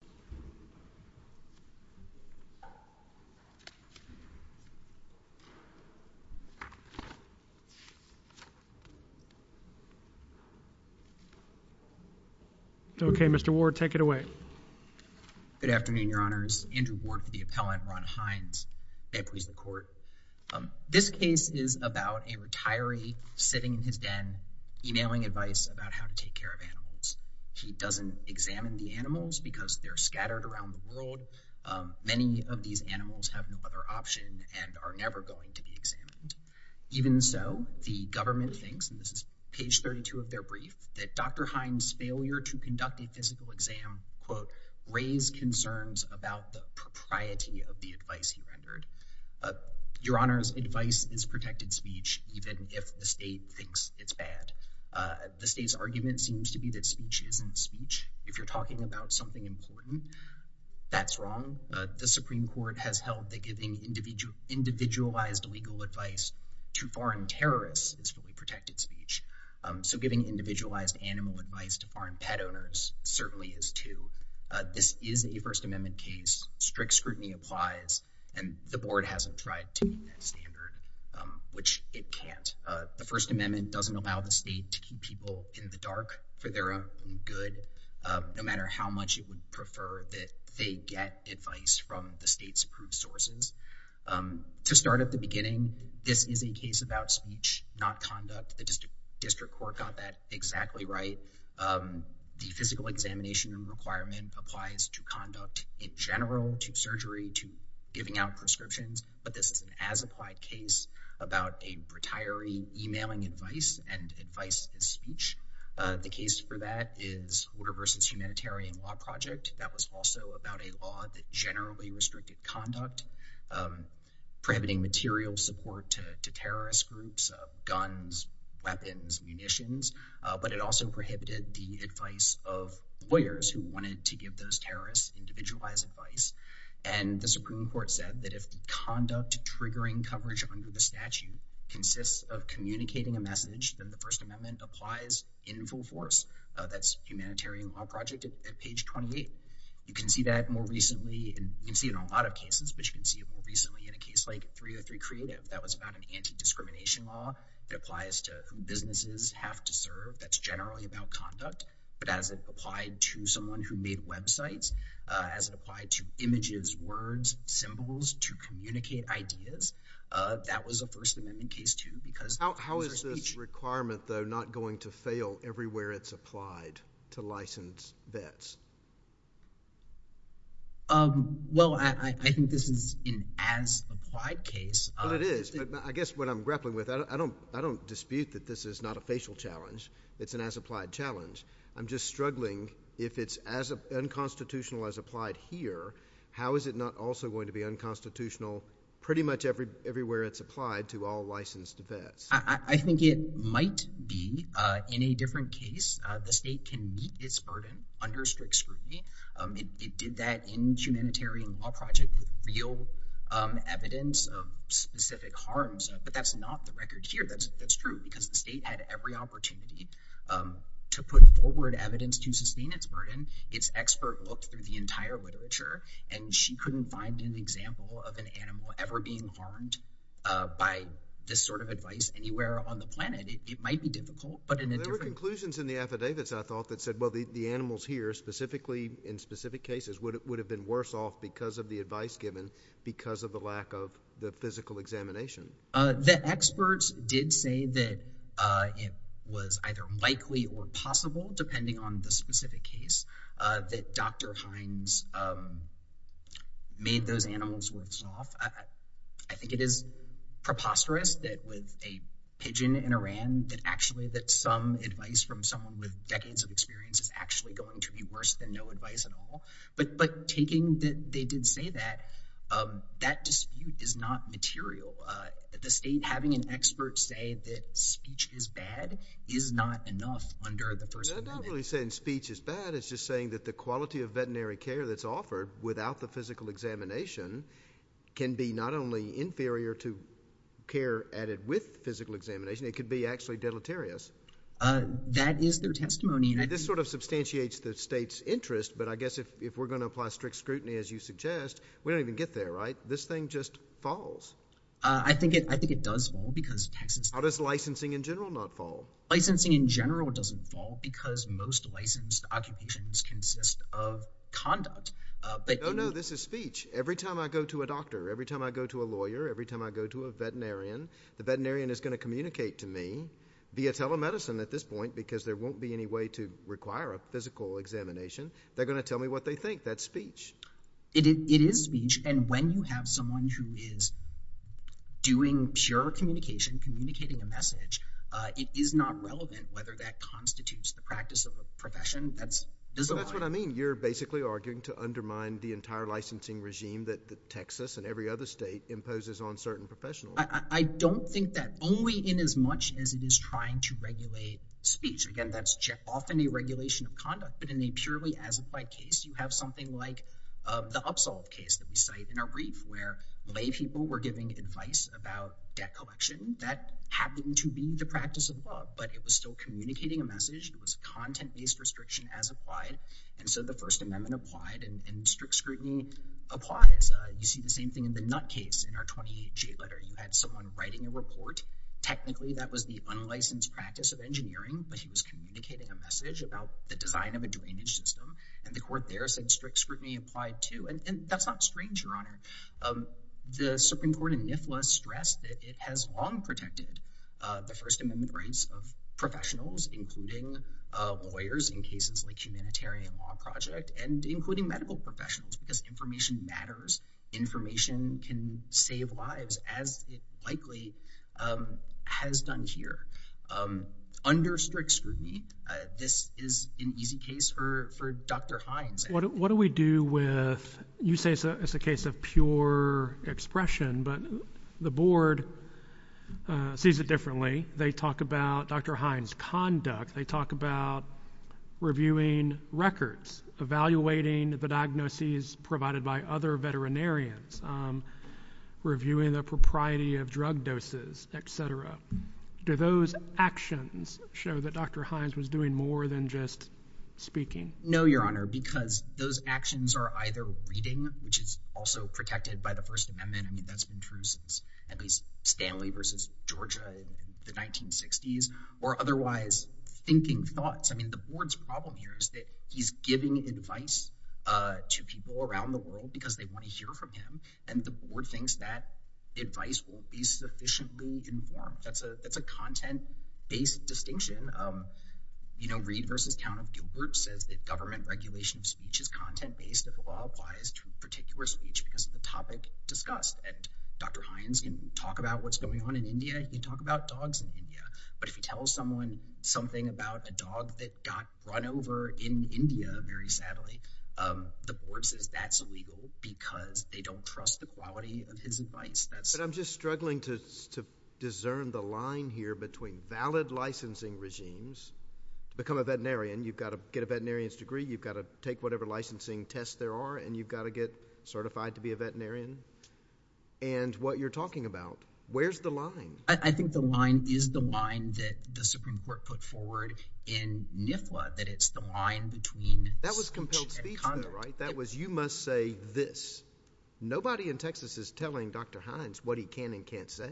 Andrew Ward v. Appellant Ron Hines Okay, Mr. Ward, take it away. Good afternoon, Your Honors. Andrew Ward for the Appellant, Ron Hines. May it please the Court. This case is about a retiree sitting in his den, emailing advice about how to take care of animals. He doesn't examine the animals because they're scattered around the world. Many of these animals have no other option and are never going to be examined. Even so, the government thinks, and this is page 32 of their brief, that Dr. Hines' failure to conduct a physical exam to quote, raise concerns about the propriety of the advice he rendered. Your Honors, advice is protected speech even if the state thinks it's bad. The state's argument seems to be that speech isn't speech. If you're talking about something important, that's wrong. The Supreme Court has held that giving individualized legal advice to foreign terrorists is really protected speech. So giving individualized animal advice to foreign pet owners certainly is too. This is a First Amendment case. Strict scrutiny applies, and the Board hasn't tried to meet that standard, which it can't. The First Amendment doesn't allow the state to keep people in the dark for their own good, no matter how much it would prefer that they get advice from the state's approved sources. To start at the beginning, this is a case about speech, not conduct. The District Court got that exactly right. The physical examination requirement applies to conduct in general, to surgery, to giving out prescriptions, but this is an as-applied case about a retiree emailing advice, and advice is speech. The case for that is Order vs. Humanitarian Law Project. That was also about a law that generally restricted conduct, prohibiting material support to terrorist groups, guns, weapons, munitions, but it also prohibited the advice of lawyers who wanted to give those terrorists individualized advice. And the Supreme Court said that if the conduct triggering coverage under the statute consists of communicating a message, then the First Amendment applies in full force. That's Humanitarian Law Project at page 28. You can see that more recently, and you can see it in a lot of cases, but you can see it more recently in a case like 303 Creative. That was about an anti-discrimination law. It applies to who businesses have to serve. That's generally about conduct. But as it applied to someone who made websites, as it applied to images, words, symbols, to communicate ideas, that was a First Amendment case, too. How is this requirement, though, not going to fail everywhere it's applied to licensed vets? Well, I think this is an as-applied case. But it is. I guess what I'm grappling with, I don't dispute that this is not a facial challenge. It's an as-applied challenge. I'm just struggling if it's as unconstitutional as applied here, how is it not also going to be unconstitutional pretty much everywhere it's applied to all licensed vets? I think it might be in a different case. The state can meet its burden under strict scrutiny. It did that in Humanitarian Law Project with real evidence of specific harms. But that's not the record here. That's true. Because the state had every opportunity to put forward evidence to sustain its burden. Its expert looked through the entire literature, and she couldn't find an example of an animal ever being harmed by this sort of advice anywhere on the planet. It might be difficult. There were conclusions in the affidavits, I thought, that said, well, the animals here, specifically in specific cases, would have been worse off because of the advice given, because of the lack of the physical examination. The experts did say that it was either likely or possible, depending on the specific case, that Dr. Hines made those animals worse off. I think it is preposterous that with a pigeon in Iran, that actually that some advice from someone with decades of experience is actually going to be worse than no advice at all. But taking that they did say that, that dispute is not material. The state having an expert say that speech is bad is not enough under the First Amendment. They're not really saying speech is bad. It's just saying that the quality of veterinary care that's offered without the physical examination can be not only inferior to care added with physical examination, it could be actually deleterious. That is their testimony. This sort of substantiates the state's interest, but I guess if we're going to apply strict scrutiny, as you suggest, we don't even get there, right? This thing just falls. I think it does fall because – How does licensing in general not fall? Licensing in general doesn't fall because most licensed occupations consist of conduct. No, no, this is speech. Every time I go to a doctor, every time I go to a lawyer, every time I go to a veterinarian, the veterinarian is going to communicate to me via telemedicine at this point because there won't be any way to require a physical examination. They're going to tell me what they think. That's speech. It is speech, and when you have someone who is doing pure communication, communicating a message, it is not relevant whether that constitutes the practice of a profession. That's what I mean. That's what I mean. You're basically arguing to undermine the entire licensing regime that Texas and every other state imposes on certain professionals. I don't think that only in as much as it is trying to regulate speech. Again, that's often a regulation of conduct, but in a purely as-applied case, you have something like the Upsolve case that we cite in our brief where laypeople were giving advice about debt collection. That happened to be the practice of the law, but it was still communicating a message. It was a content-based restriction as applied, and so the First Amendment applied, and strict scrutiny applies. You see the same thing in the Nutt case in our 20-G letter. You had someone writing a report. Technically, that was the unlicensed practice of engineering, but he was communicating a message about the design of a drainage system, and the court there said strict scrutiny applied too, and that's not strange, Your Honor. The Supreme Court in NIFLA stressed that it has long protected the First Amendment rights of professionals, including lawyers in cases like Humanitarian Law Project and including medical professionals, because information matters. Information can save lives, as it likely has done here. Under strict scrutiny, this is an easy case for Dr. Hines. What do we do with, you say it's a case of pure expression, but the board sees it differently. They talk about Dr. Hines' conduct. They talk about reviewing records, evaluating the diagnoses provided by other veterinarians, reviewing the propriety of drug doses, et cetera. Do those actions show that Dr. Hines was doing more than just speaking? No, Your Honor, because those actions are either reading, which is also protected by the First Amendment. I mean, that's been true since at least Stanley versus Georgia in the 1960s, or otherwise thinking thoughts. I mean, the board's problem here is that he's giving advice to people around the world because they want to hear from him, and the board thinks that advice won't be sufficiently informed. That's a content-based distinction. You know, Reed versus Town of Gilbert says that government regulation of speech is content-based if the law applies to a particular speech because of the topic discussed. And Dr. Hines can talk about what's going on in India. He can talk about dogs in India. But if he tells someone something about a dog that got run over in India, very sadly, the board says that's illegal because they don't trust the quality of his advice. But I'm just struggling to discern the line here between valid licensing regimes. Become a veterinarian. You've got to get a veterinarian's degree. You've got to take whatever licensing tests there are, and you've got to get certified to be a veterinarian. And what you're talking about, where's the line? I think the line is the line that the Supreme Court put forward in NIFLA, that it's the line between speech and conduct. That was compelled speech, though, right? That was you must say this. Nobody in Texas is telling Dr. Hines what he can and can't say.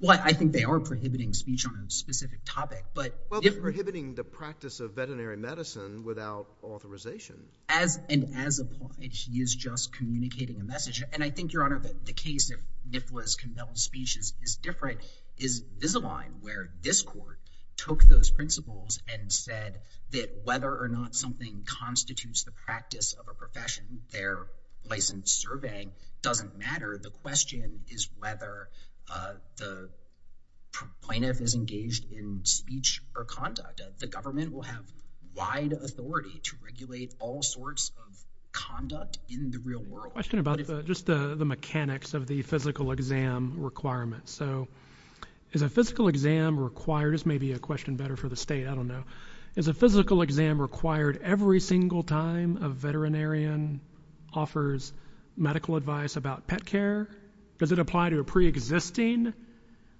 Well, I think they are prohibiting speech on a specific topic. Well, they're prohibiting the practice of veterinary medicine without authorization. And as a point, he is just communicating a message. And I think, Your Honor, that the case that NIFLA's compelled speech is different is this is a line where this court took those principles and said that whether or not something constitutes the practice of a profession, their licensed surveying doesn't matter. The question is whether the plaintiff is engaged in speech or conduct. The government will have wide authority to regulate all sorts of conduct in the real world. I have a question about just the mechanics of the physical exam requirements. So is a physical exam required? This may be a question better for the state. I don't know. Is a physical exam required every single time a veterinarian offers medical advice about pet care? Does it apply to a preexisting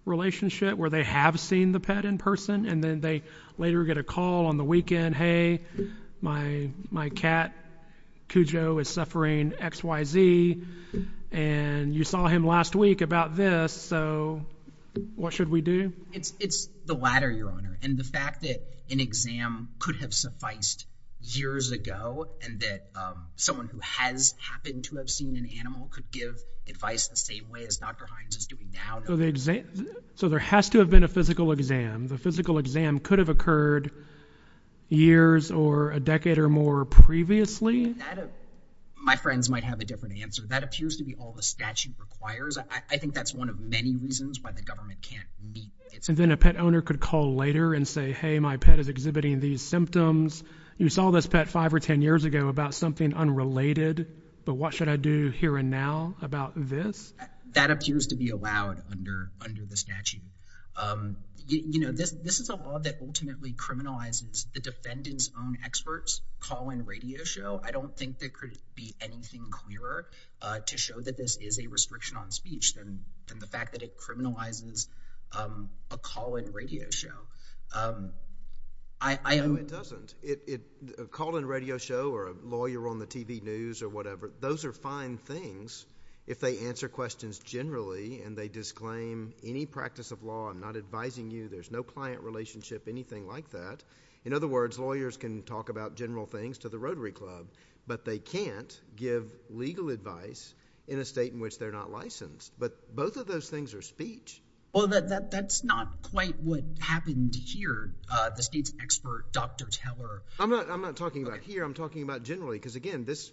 relationship where they have seen the pet in person and then they later get a call on the weekend, hey, my cat Cujo is suffering X, Y, Z. And you saw him last week about this. So what should we do? It's the latter, Your Honor. And the fact that an exam could have sufficed years ago and that someone who has happened to have seen an animal could give advice the same way as Dr. Hines is doing now. So there has to have been a physical exam. The physical exam could have occurred years or a decade or more previously. My friends might have a different answer. That appears to be all the statute requires. I think that's one of many reasons why the government can't meet. And then a pet owner could call later and say, hey, my pet is exhibiting these symptoms. You saw this pet five or 10 years ago about something unrelated. But what should I do here and now about this? That appears to be allowed under the statute. You know, this is a law that ultimately criminalizes the defendant's own experts' call-in radio show. I don't think there could be anything clearer to show that this is a restriction on speech than the fact that it criminalizes a call-in radio show. No, it doesn't. A call-in radio show or a lawyer on the TV news or whatever, those are fine things if they answer questions generally and they disclaim any practice of law. I'm not advising you. There's no client relationship, anything like that. In other words, lawyers can talk about general things to the Rotary Club, but they can't give legal advice in a state in which they're not licensed. But both of those things are speech. Well, that's not quite what happened here, the state's expert, Dr. Teller. I'm not talking about here. I'm talking about generally because, again, this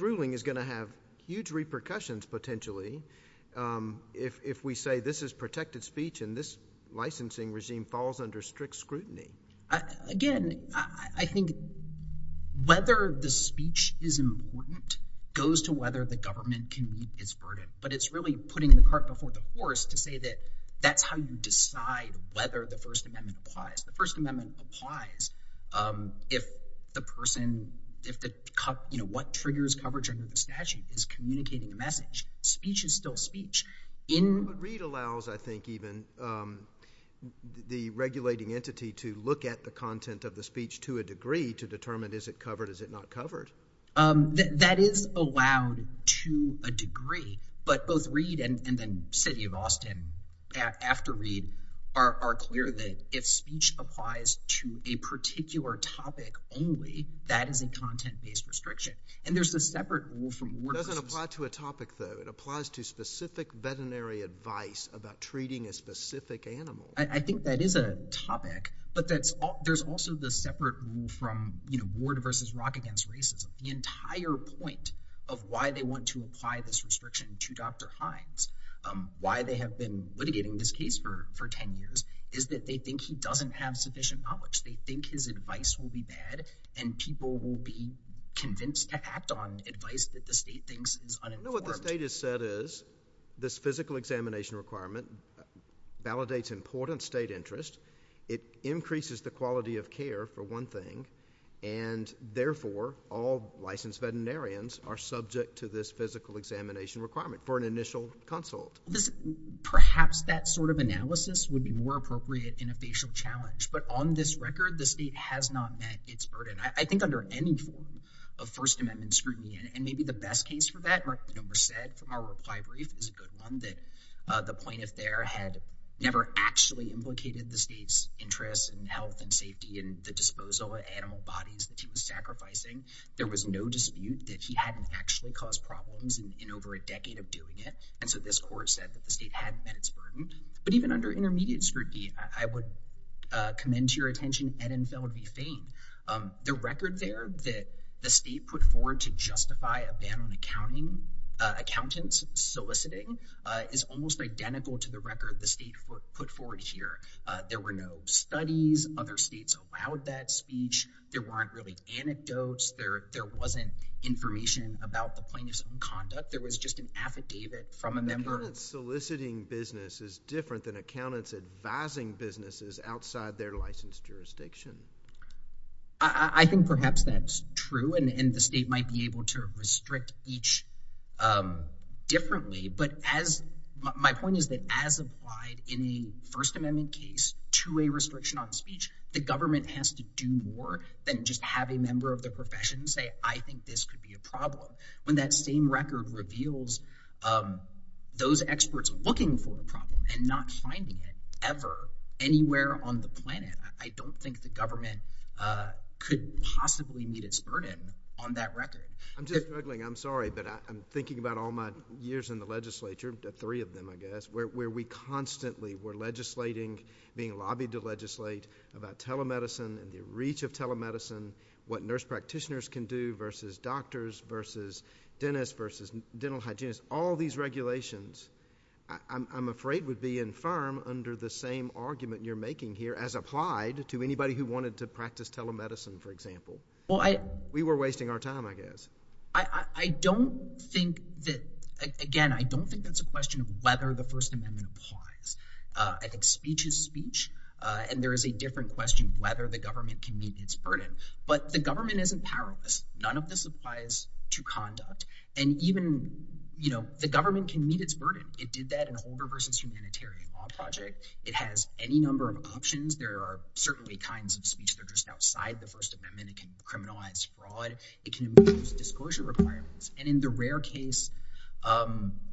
ruling is going to have huge repercussions potentially if we say this is protected speech and this licensing regime falls under strict scrutiny. Again, I think whether the speech is important goes to whether the government can meet its verdict. But it's really putting the cart before the horse to say that that's how you decide whether the First Amendment applies. The First Amendment applies if the person, you know, what triggers coverage under the statute is communicating a message. Speech is still speech. But Reed allows, I think, even the regulating entity to look at the content of the speech to a degree to determine is it covered, is it not covered. That is allowed to a degree. But both Reed and then city of Austin after Reed are clear that if speech applies to a particular topic only, that is a content-based restriction. And there's a separate rule from— It doesn't apply to a topic, though. It applies to specific veterinary advice about treating a specific animal. I think that is a topic, but there's also the separate rule from, you know, Why they have been litigating this case for 10 years is that they think he doesn't have sufficient knowledge. They think his advice will be bad, and people will be convinced to act on advice that the state thinks is uninformed. You know what the state has said is this physical examination requirement validates important state interest. It increases the quality of care, for one thing. And therefore, all licensed veterinarians are subject to this physical examination requirement for an initial consult. Perhaps that sort of analysis would be more appropriate in a facial challenge. But on this record, the state has not met its burden. I think under any form of First Amendment scrutiny, and maybe the best case for that, from our reply brief, it was a good one, that the plaintiff there had never actually implicated the state's interest in health and safety and the disposal of animal bodies that he was sacrificing. There was no dispute that he hadn't actually caused problems in over a decade of doing it. And so this court said that the state hadn't met its burden. But even under intermediate scrutiny, I would commend to your attention Ed and Phil would be famed. The record there that the state put forward to justify a ban on accountants soliciting is almost identical to the record the state put forward here. There were no studies. Other states allowed that speech. There weren't really anecdotes. There wasn't information about the plaintiff's own conduct. Accountants soliciting business is different than accountants advising businesses outside their licensed jurisdiction. I think perhaps that's true, and the state might be able to restrict each differently. But my point is that as applied in a First Amendment case to a restriction on speech, the government has to do more than just have a member of the profession say, I think this could be a problem. When that same record reveals those experts looking for the problem and not finding it ever anywhere on the planet, I don't think the government could possibly meet its burden on that record. I'm just juggling. I'm sorry, but I'm thinking about all my years in the legislature, three of them I guess, where we constantly were legislating, being lobbied to legislate about telemedicine and the reach of telemedicine, what nurse practitioners can do versus doctors versus dentists versus dental hygienists. All these regulations, I'm afraid, would be infirm under the same argument you're making here as applied to anybody who wanted to practice telemedicine, for example. We were wasting our time, I guess. I don't think that, again, I don't think that's a question of whether the First Amendment applies. I think speech is speech, and there is a different question whether the government can meet its burden. But the government isn't powerless. None of this applies to conduct. And even the government can meet its burden. It did that in Holder v. Humanitarian Law Project. It has any number of options. There are certainly kinds of speech that are just outside the First Amendment. It can criminalize fraud. It can impose disclosure requirements. And in the rare case,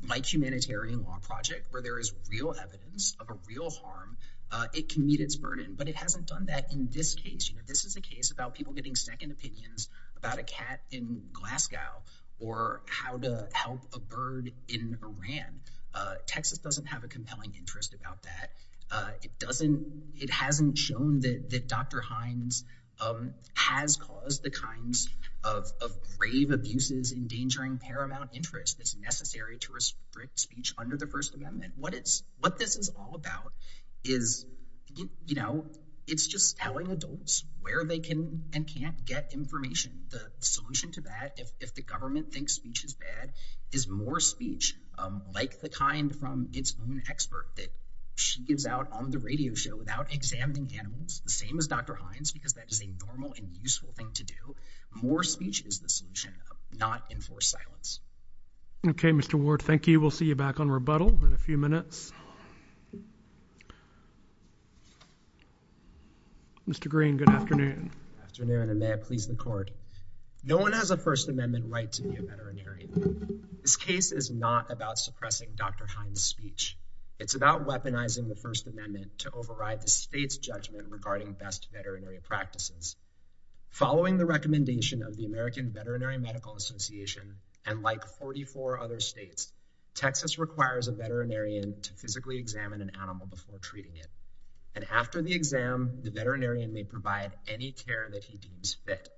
like Humanitarian Law Project, where there is real evidence of a real harm, it can meet its burden. But it hasn't done that in this case. This is a case about people getting second opinions about a cat in Glasgow or how to help a bird in Iran. Texas doesn't have a compelling interest about that. It hasn't shown that Dr. Hines has caused the kinds of grave abuses endangering paramount interest that's necessary to restrict speech under the First Amendment. What this is all about is, you know, it's just telling adults where they can and can't get information. The solution to that, if the government thinks speech is bad, is more speech like the kind from its own expert that she gives out on the radio show without examining animals, the same as Dr. Hines, because that is a normal and useful thing to do. More speech is the solution, not enforced silence. Okay, Mr. Ward, thank you. We'll see you back on rebuttal in a few minutes. Mr. Green, good afternoon. Good afternoon, and may it please the court. No one has a First Amendment right to be a veterinary. This case is not about suppressing Dr. Hines' speech. It's about weaponizing the First Amendment to override the state's judgment regarding best veterinary practices. Following the recommendation of the American Veterinary Medical Association, and like 44 other states, Texas requires a veterinarian to physically examine an animal before treating it. And after the exam, the veterinarian may provide any care that he deems fit.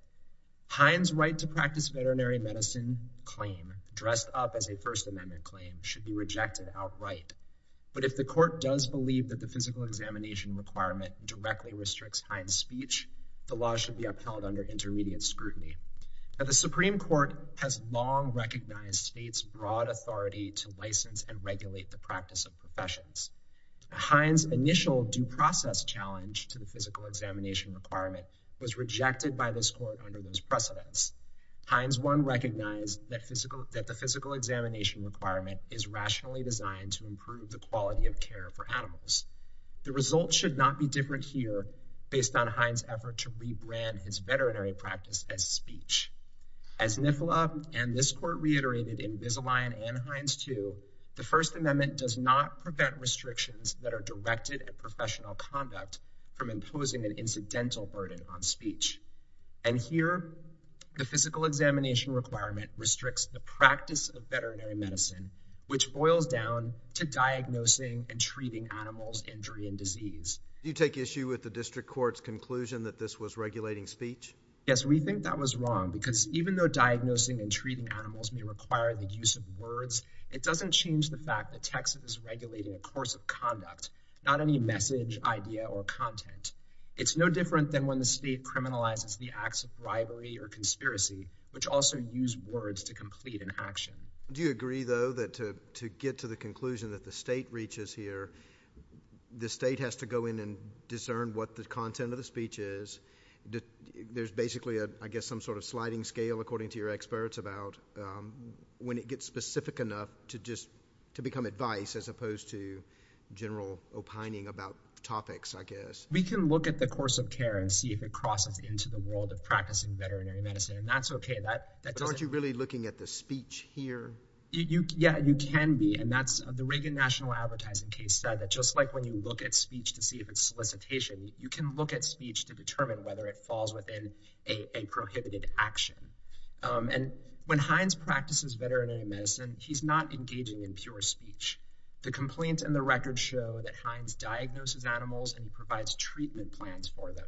Hines' right to practice veterinary medicine claim, dressed up as a First Amendment claim, should be rejected outright. But if the court does believe that the physical examination requirement directly restricts Hines' speech, the law should be upheld under intermediate scrutiny. The Supreme Court has long recognized states' broad authority to license and regulate the practice of professions. Hines' initial due process challenge to the physical examination requirement was rejected by this court under those precedents. Hines 1 recognized that the physical examination requirement is rationally designed to improve the quality of care for animals. The result should not be different here based on Hines' effort to rebrand his veterinary practice as speech. As NIFILA and this court reiterated in Visalign and Hines 2, the First Amendment does not prevent restrictions that are directed at professional conduct from imposing an incidental burden on speech. And here, the physical examination requirement restricts the practice of veterinary medicine, which boils down to diagnosing and treating animals' injury and disease. Do you take issue with the district court's conclusion that this was regulating speech? Yes, we think that was wrong because even though diagnosing and treating animals may require the use of words, it doesn't change the fact that Texas is regulating a course of conduct, not any message, idea, or content. It's no different than when the state criminalizes the acts of rivalry or conspiracy, which also use words to complete an action. Do you agree, though, that to get to the conclusion that the state reaches here, the state has to go in and discern what the content of the speech is? There's basically, I guess, some sort of sliding scale, according to your experts, about when it gets specific enough to just to become advice as opposed to general opining about topics, I guess. We can look at the course of care and see if it crosses into the world of practicing veterinary medicine, and that's okay. But aren't you really looking at the speech here? Yeah, you can be, and that's the Reagan National Advertising case said that just like when you look at speech to see if it's solicitation, you can look at speech to determine whether it falls within a prohibited action. And when Hines practices veterinary medicine, he's not engaging in pure speech. The complaint and the record show that Hines diagnoses animals and provides treatment plans for them.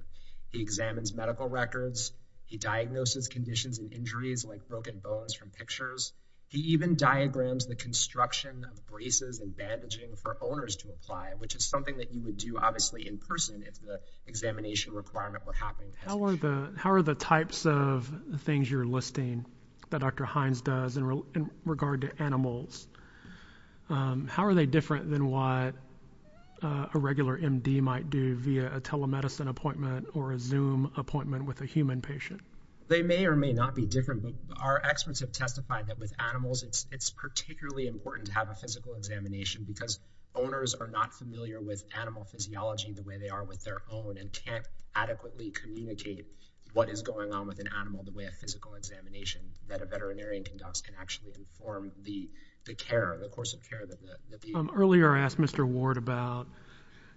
He examines medical records. He diagnoses conditions and injuries like broken bones from pictures. He even diagrams the construction of braces and bandaging for owners to apply, which is something that you would do obviously in person if the examination requirement were happening. How are the types of things you're listing that Dr. Hines does in regard to animals? How are they different than what a regular MD might do via a telemedicine appointment or a Zoom appointment with a human patient? They may or may not be different. Our experts have testified that with animals, it's particularly important to have a physical examination because owners are not familiar with animal physiology the way they are with their own and can't adequately communicate what is going on with an animal the way a physical examination that a veterinarian conducts can actually inform the care, the course of care that they need. Earlier I asked Mr. Ward about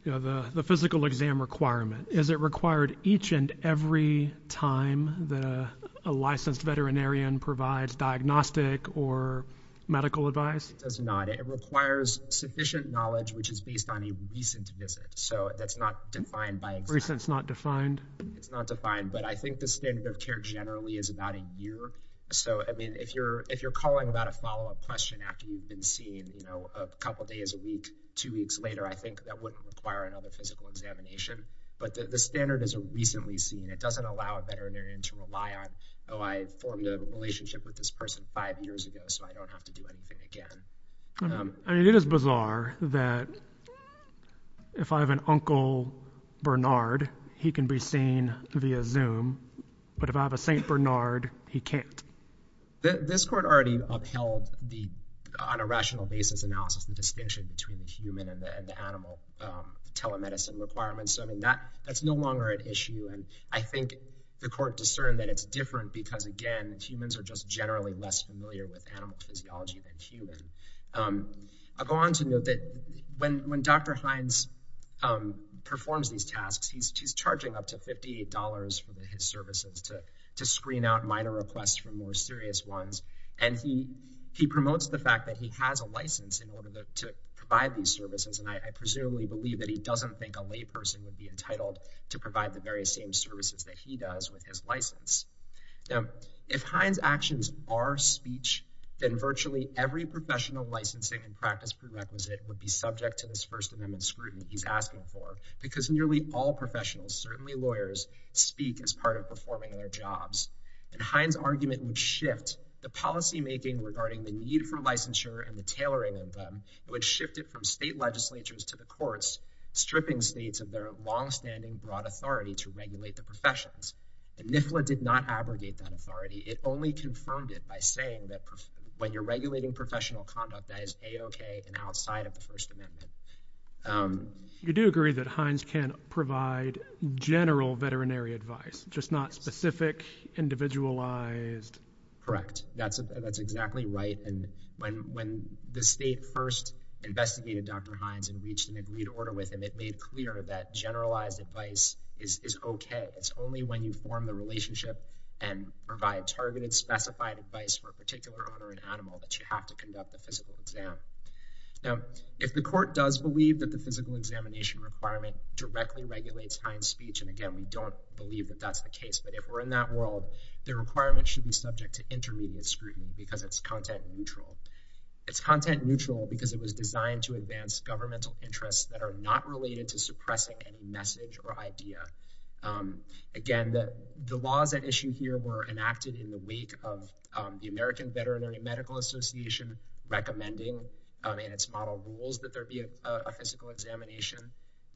the physical exam requirement. Is it required each and every time that a licensed veterinarian provides diagnostic or medical advice? It does not. It requires sufficient knowledge, which is based on a recent visit. So that's not defined by exam. Recent is not defined? It's not defined. But I think the standard of care generally is about a year. So, I mean, if you're calling about a follow-up question after you've been seen, you know, a couple days a week, two weeks later, I think that wouldn't require another physical examination. But the standard is a recently seen. It doesn't allow a veterinarian to rely on, oh, I formed a relationship with this person five years ago, so I don't have to do anything again. It is bizarre that if I have an Uncle Bernard, he can be seen via Zoom. But if I have a St. Bernard, he can't. This court already upheld the, on a rational basis analysis, the distinction between the human and the animal telemedicine requirements. So, I mean, that's no longer an issue. And I think the court discerned that it's different because, again, humans are just generally less familiar with animal physiology than human. I'll go on to note that when Dr. Hines performs these tasks, he's charging up to $58 for his services to screen out minor requests for more serious ones. And he promotes the fact that he has a license in order to provide these services. And I presumably believe that he doesn't think a layperson would be entitled to provide the various same services that he does with his license. Now, if Hines' actions are speech, then virtually every professional licensing and practice prerequisite would be subject to this First Amendment scrutiny he's asking for. Because nearly all professionals, certainly lawyers, speak as part of performing their jobs. And Hines' argument would shift the policymaking regarding the need for licensure and the tailoring of them. It would shift it from state legislatures to the courts, stripping states of their longstanding broad authority to regulate the professions. And NIFLA did not abrogate that authority. It only confirmed it by saying that when you're regulating professional conduct, that is A-OK and outside of the First Amendment. You do agree that Hines can provide general veterinary advice, just not specific, individualized? Correct. That's exactly right. And when the state first investigated Dr. Hines and reached an agreed order with him, it made clear that generalized advice is OK. It's only when you form the relationship and provide targeted, specified advice for a particular owner and animal that you have to conduct a physical exam. Now, if the court does believe that the physical examination requirement directly regulates Hines' speech, and again, we don't believe that that's the case, but if we're in that world, the requirement should be subject to intermediate scrutiny because it's content neutral. It's content neutral because it was designed to advance governmental interests that are not related to suppressing any message or idea. Again, the laws at issue here were enacted in the wake of the American Veterinary Medical Association recommending in its model rules that there be a physical examination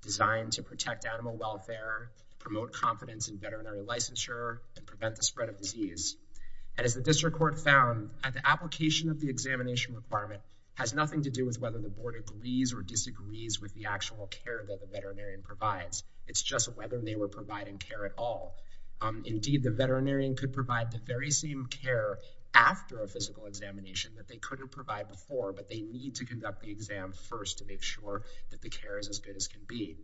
designed to protect animal welfare, promote confidence in veterinary licensure, and prevent the spread of disease. And as the district court found, the application of the examination requirement has nothing to do with whether the board agrees or disagrees with the actual care that the veterinarian provides. It's just whether they were providing care at all. Indeed, the veterinarian could provide the very same care after a physical examination that they couldn't provide before, but they need to conduct the exam first to make sure that the care is as good as can be.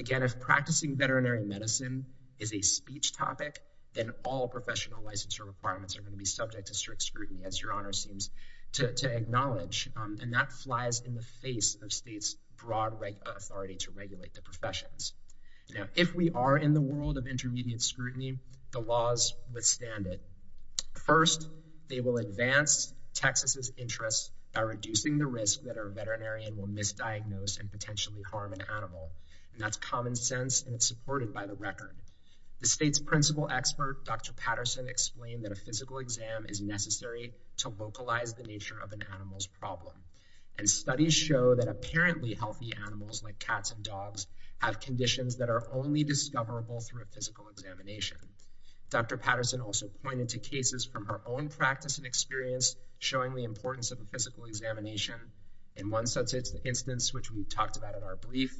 Again, if practicing veterinary medicine is a speech topic, then all professional licensure requirements are going to be subject to strict scrutiny, as your honor seems to acknowledge, and that flies in the face of state's broad authority to regulate the professions. Now, if we are in the world of intermediate scrutiny, the laws withstand it. First, they will advance Texas's interests by reducing the risk that our veterinarian will misdiagnose and potentially harm an animal. And that's common sense, and it's supported by the record. The state's principal expert, Dr. Patterson, explained that a physical exam is necessary to localize the nature of an animal's problem. And studies show that apparently healthy animals like cats and dogs have conditions that are only discoverable through a physical examination. Dr. Patterson also pointed to cases from her own practice and experience showing the importance of a physical examination. In one such instance, which we talked about in our brief,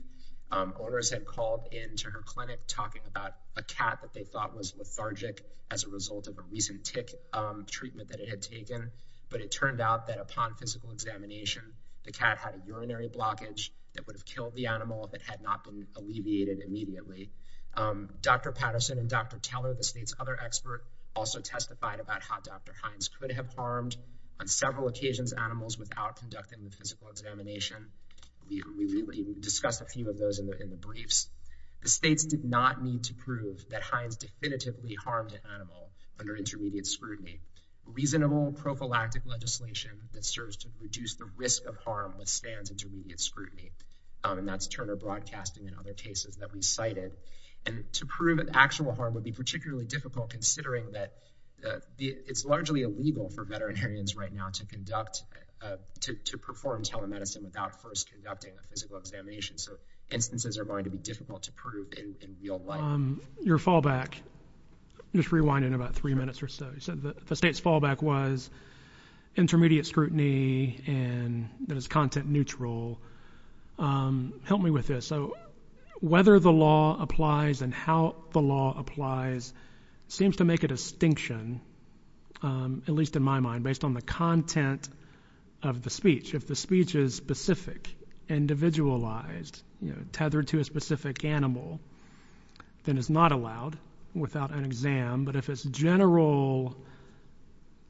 owners had called into her clinic talking about a cat that they thought was lethargic as a result of a recent tick treatment that it had taken. But it turned out that upon physical examination, the cat had a urinary blockage that would have killed the animal if it had not been alleviated immediately. Dr. Patterson and Dr. Teller, the state's other expert, also testified about how Dr. We discussed a few of those in the briefs. The states did not need to prove that Hines definitively harmed an animal under intermediate scrutiny. Reasonable prophylactic legislation that serves to reduce the risk of harm withstands intermediate scrutiny. And that's Turner Broadcasting and other cases that we cited. And to prove an actual harm would be particularly difficult, considering that it's largely illegal for veterinarians right now to conduct, to perform telemedicine without first conducting a physical examination. So instances are going to be difficult to prove in your fallback. Just rewind in about three minutes or so. So the state's fallback was intermediate scrutiny and that is content neutral. Help me with this. So whether the law applies and how the law applies seems to make a distinction, at least in my mind, based on the content of the speech. If the speech is specific, individualized, you know, tethered to a specific animal, then it's not allowed without an exam. But if it's general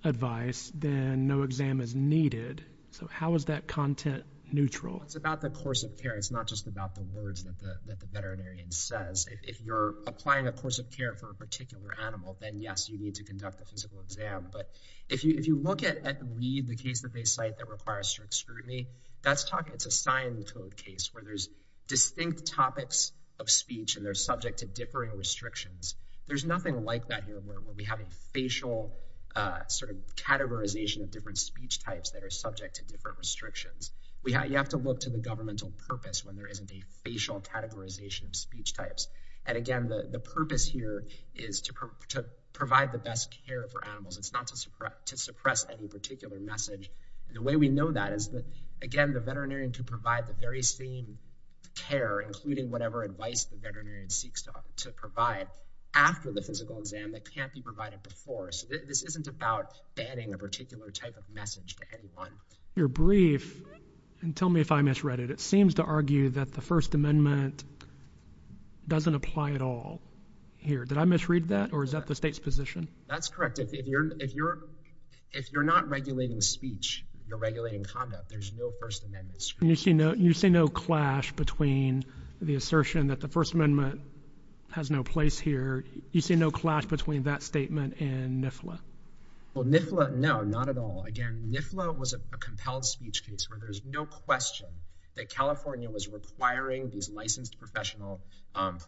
advice, then no exam is needed. So how is that content neutral? Well, it's about the course of care. It's not just about the words that the veterinarian says. If you're applying a course of care for a particular animal, then, yes, you need to conduct a physical exam. But if you look at the case that they cite that requires strict scrutiny, that's a signed code case where there's distinct topics of speech and they're subject to differing restrictions. There's nothing like that here where we have a facial sort of categorization of different speech types that are subject to different restrictions. You have to look to the governmental purpose when there isn't a facial categorization of speech types. And, again, the purpose here is to provide the best care for animals. It's not to suppress any particular message. The way we know that is that, again, the veterinarian can provide the very same care, including whatever advice the veterinarian seeks to provide, after the physical exam that can't be provided before. So this isn't about banning a particular type of message to anyone. You're brief, and tell me if I misread it. It seems to argue that the First Amendment doesn't apply at all here. Did I misread that, or is that the state's position? That's correct. If you're not regulating speech, you're regulating conduct. There's no First Amendment. You see no clash between the assertion that the First Amendment has no place here. You see no clash between that statement and NIFLA. Well, NIFLA, no, not at all. Again, NIFLA was a compelled speech case where there's no question that California was requiring these licensed professional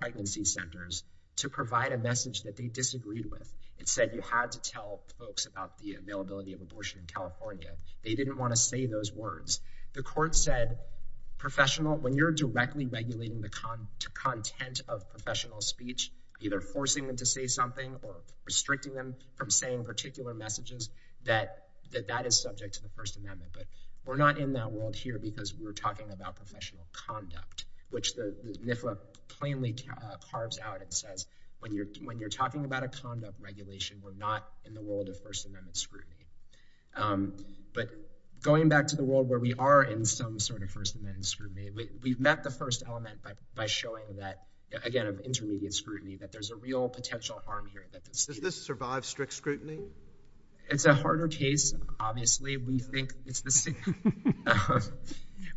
pregnancy centers to provide a message that they disagreed with. It said you had to tell folks about the availability of abortion in California. They didn't want to say those words. The court said, professional, when you're directly regulating the content of professional speech, either forcing them to say something or restricting them from saying particular messages, that that is subject to the First Amendment. But we're not in that world here because we're talking about professional conduct, which NIFLA plainly carves out and says, when you're talking about a conduct regulation, we're not in the world of First Amendment scrutiny. But going back to the world where we are in some sort of First Amendment scrutiny, we've met the first element by showing that, again, of intermediate scrutiny, that there's a real potential harm here. Does this survive strict scrutiny? It's a harder case, obviously. We think it's the same.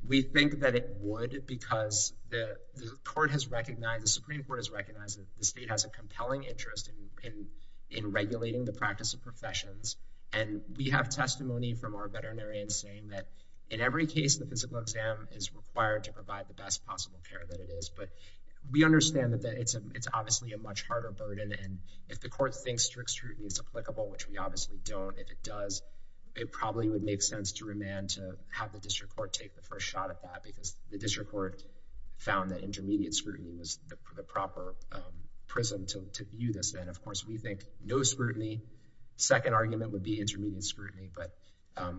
We think that it would because the Supreme Court has recognized that the state has a compelling interest in regulating the practice of professions. And we have testimony from our veterinarians saying that, in every case, the physical exam is required to provide the best possible care that it is. But we understand that it's obviously a much harder burden. And if the court thinks strict scrutiny is applicable, which we obviously don't, if it does, it probably would make sense to remand to have the district court take the first shot at that because the district court found that intermediate scrutiny was the proper prism to view this. And, of course, we think no scrutiny. Second argument would be intermediate scrutiny. But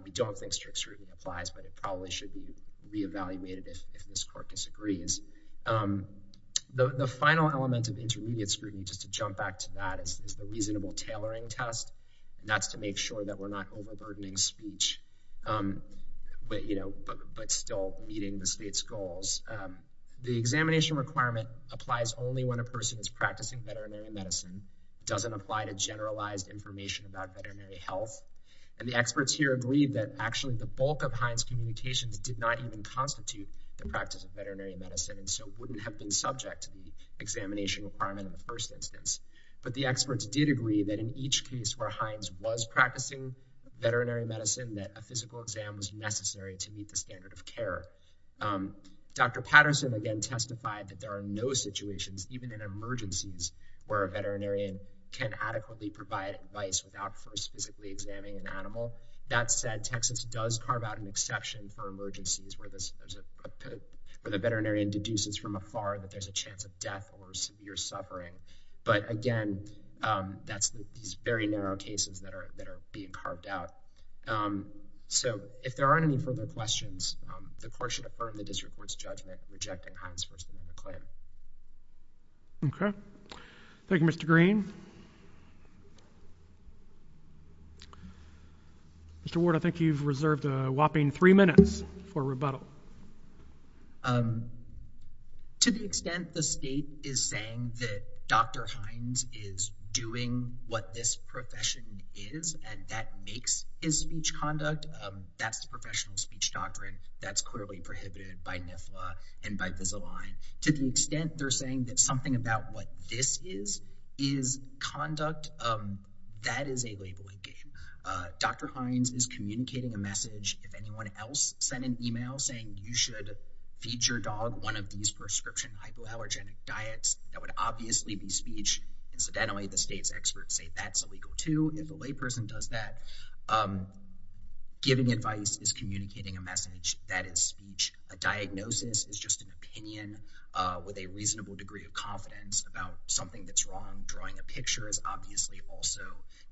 we don't think strict scrutiny applies, but it probably should be reevaluated if this court disagrees. The final element of intermediate scrutiny, just to jump back to that, is the reasonable tailoring test. That's to make sure that we're not overburdening speech, but still meeting the state's goals. The examination requirement applies only when a person is practicing veterinary medicine, doesn't apply to generalized information about veterinary health. And the experts here agree that, actually, the bulk of Heinz communications did not even constitute the practice of veterinary medicine and so wouldn't have been subject to the examination requirement in the first instance. But the experts did agree that in each case where Heinz was practicing veterinary medicine, that a physical exam was necessary to meet the standard of care. Dr. Patterson again testified that there are no situations, even in emergencies, where a veterinarian can adequately provide advice without first physically examining an animal. That said, Texas does carve out an exception for emergencies where the veterinarian deduces from afar that there's a chance of death or severe suffering. But, again, that's these very narrow cases that are being carved out. So if there aren't any further questions, the court should affirm the district court's judgment rejecting Heinz v. McClain. Okay. Thank you, Mr. Green. Mr. Ward, I think you've reserved a whopping three minutes for rebuttal. To the extent the state is saying that Dr. Heinz is doing what this profession is and that makes his speech conduct, that's the professional speech doctrine that's clearly prohibited by NIFLA and by Visalign. To the extent they're saying that something about what this is is conduct, that is a labeling game. Dr. Heinz is communicating a message if anyone else sent an email saying you should feed your dog one of these prescription hypoallergenic diets, that would obviously be speech. Incidentally, the state's experts say that's illegal, too, if a layperson does that. Giving advice is communicating a message. That is speech. A diagnosis is just an opinion with a reasonable degree of confidence about something that's wrong. Drawing a picture is obviously also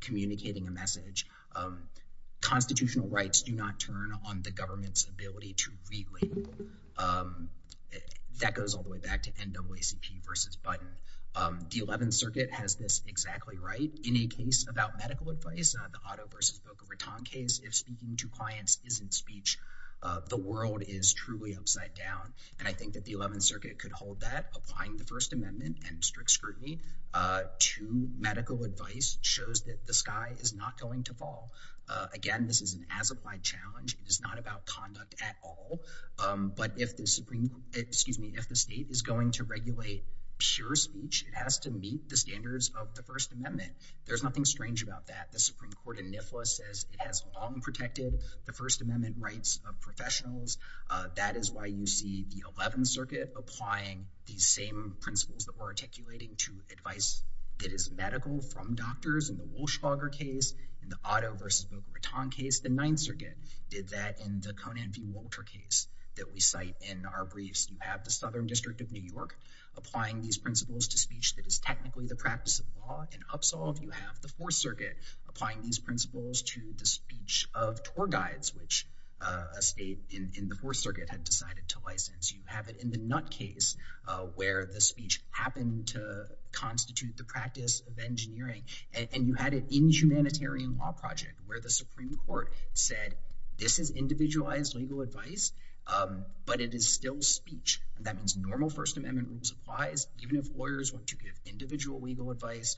communicating a message. Constitutional rights do not turn on the government's ability to re-label. That goes all the way back to NAACP v. Button. The 11th Circuit has this exactly right. Any case about medical advice, the Otto v. Boca Raton case, if speaking to clients isn't speech, the world is truly upside down. I think that the 11th Circuit could hold that. Applying the First Amendment and strict scrutiny to medical advice shows that the sky is not going to fall. Again, this is an as-applied challenge. It is not about conduct at all. But if the state is going to regulate pure speech, it has to meet the standards of the First Amendment. There's nothing strange about that. The Supreme Court in NIFLA says it has long protected the First Amendment rights of professionals. That is why you see the 11th Circuit applying these same principles that we're articulating to advice that is medical from doctors in the Wolfschwager case, in the Otto v. Boca Raton case. The 9th Circuit did that in the Conan v. Walter case that we cite in our briefs. You have the Southern District of New York applying these principles to speech that is technically the practice of law. In UPSOLV, you have the 4th Circuit applying these principles to the speech of tour guides, which a state in the 4th Circuit had decided to license. You have it in the NUT case, where the speech happened to constitute the practice of engineering. And you had it in the humanitarian law project, where the Supreme Court said, this is individualized legal advice, but it is still speech. That means normal First Amendment rules applies, even if lawyers want to give individual legal advice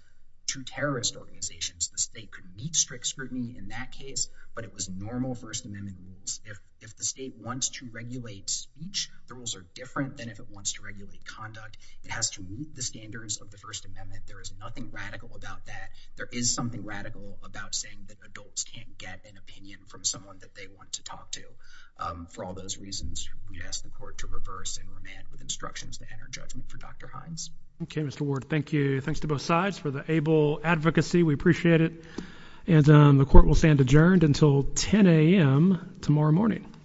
to terrorist organizations. The state could meet strict scrutiny in that case, but it was normal First Amendment rules. If the state wants to regulate speech, the rules are different than if it wants to regulate conduct. It has to meet the standards of the First Amendment. There is nothing radical about that. There is something radical about saying that adults can't get an opinion from someone that they want to talk to. For all those reasons, we ask the court to reverse and remand with instructions to enter judgment for Dr. Hines. Okay, Mr. Ward. Thank you. Thanks to both sides for the able advocacy. We appreciate it. The court will stand adjourned until 10 a.m. tomorrow morning.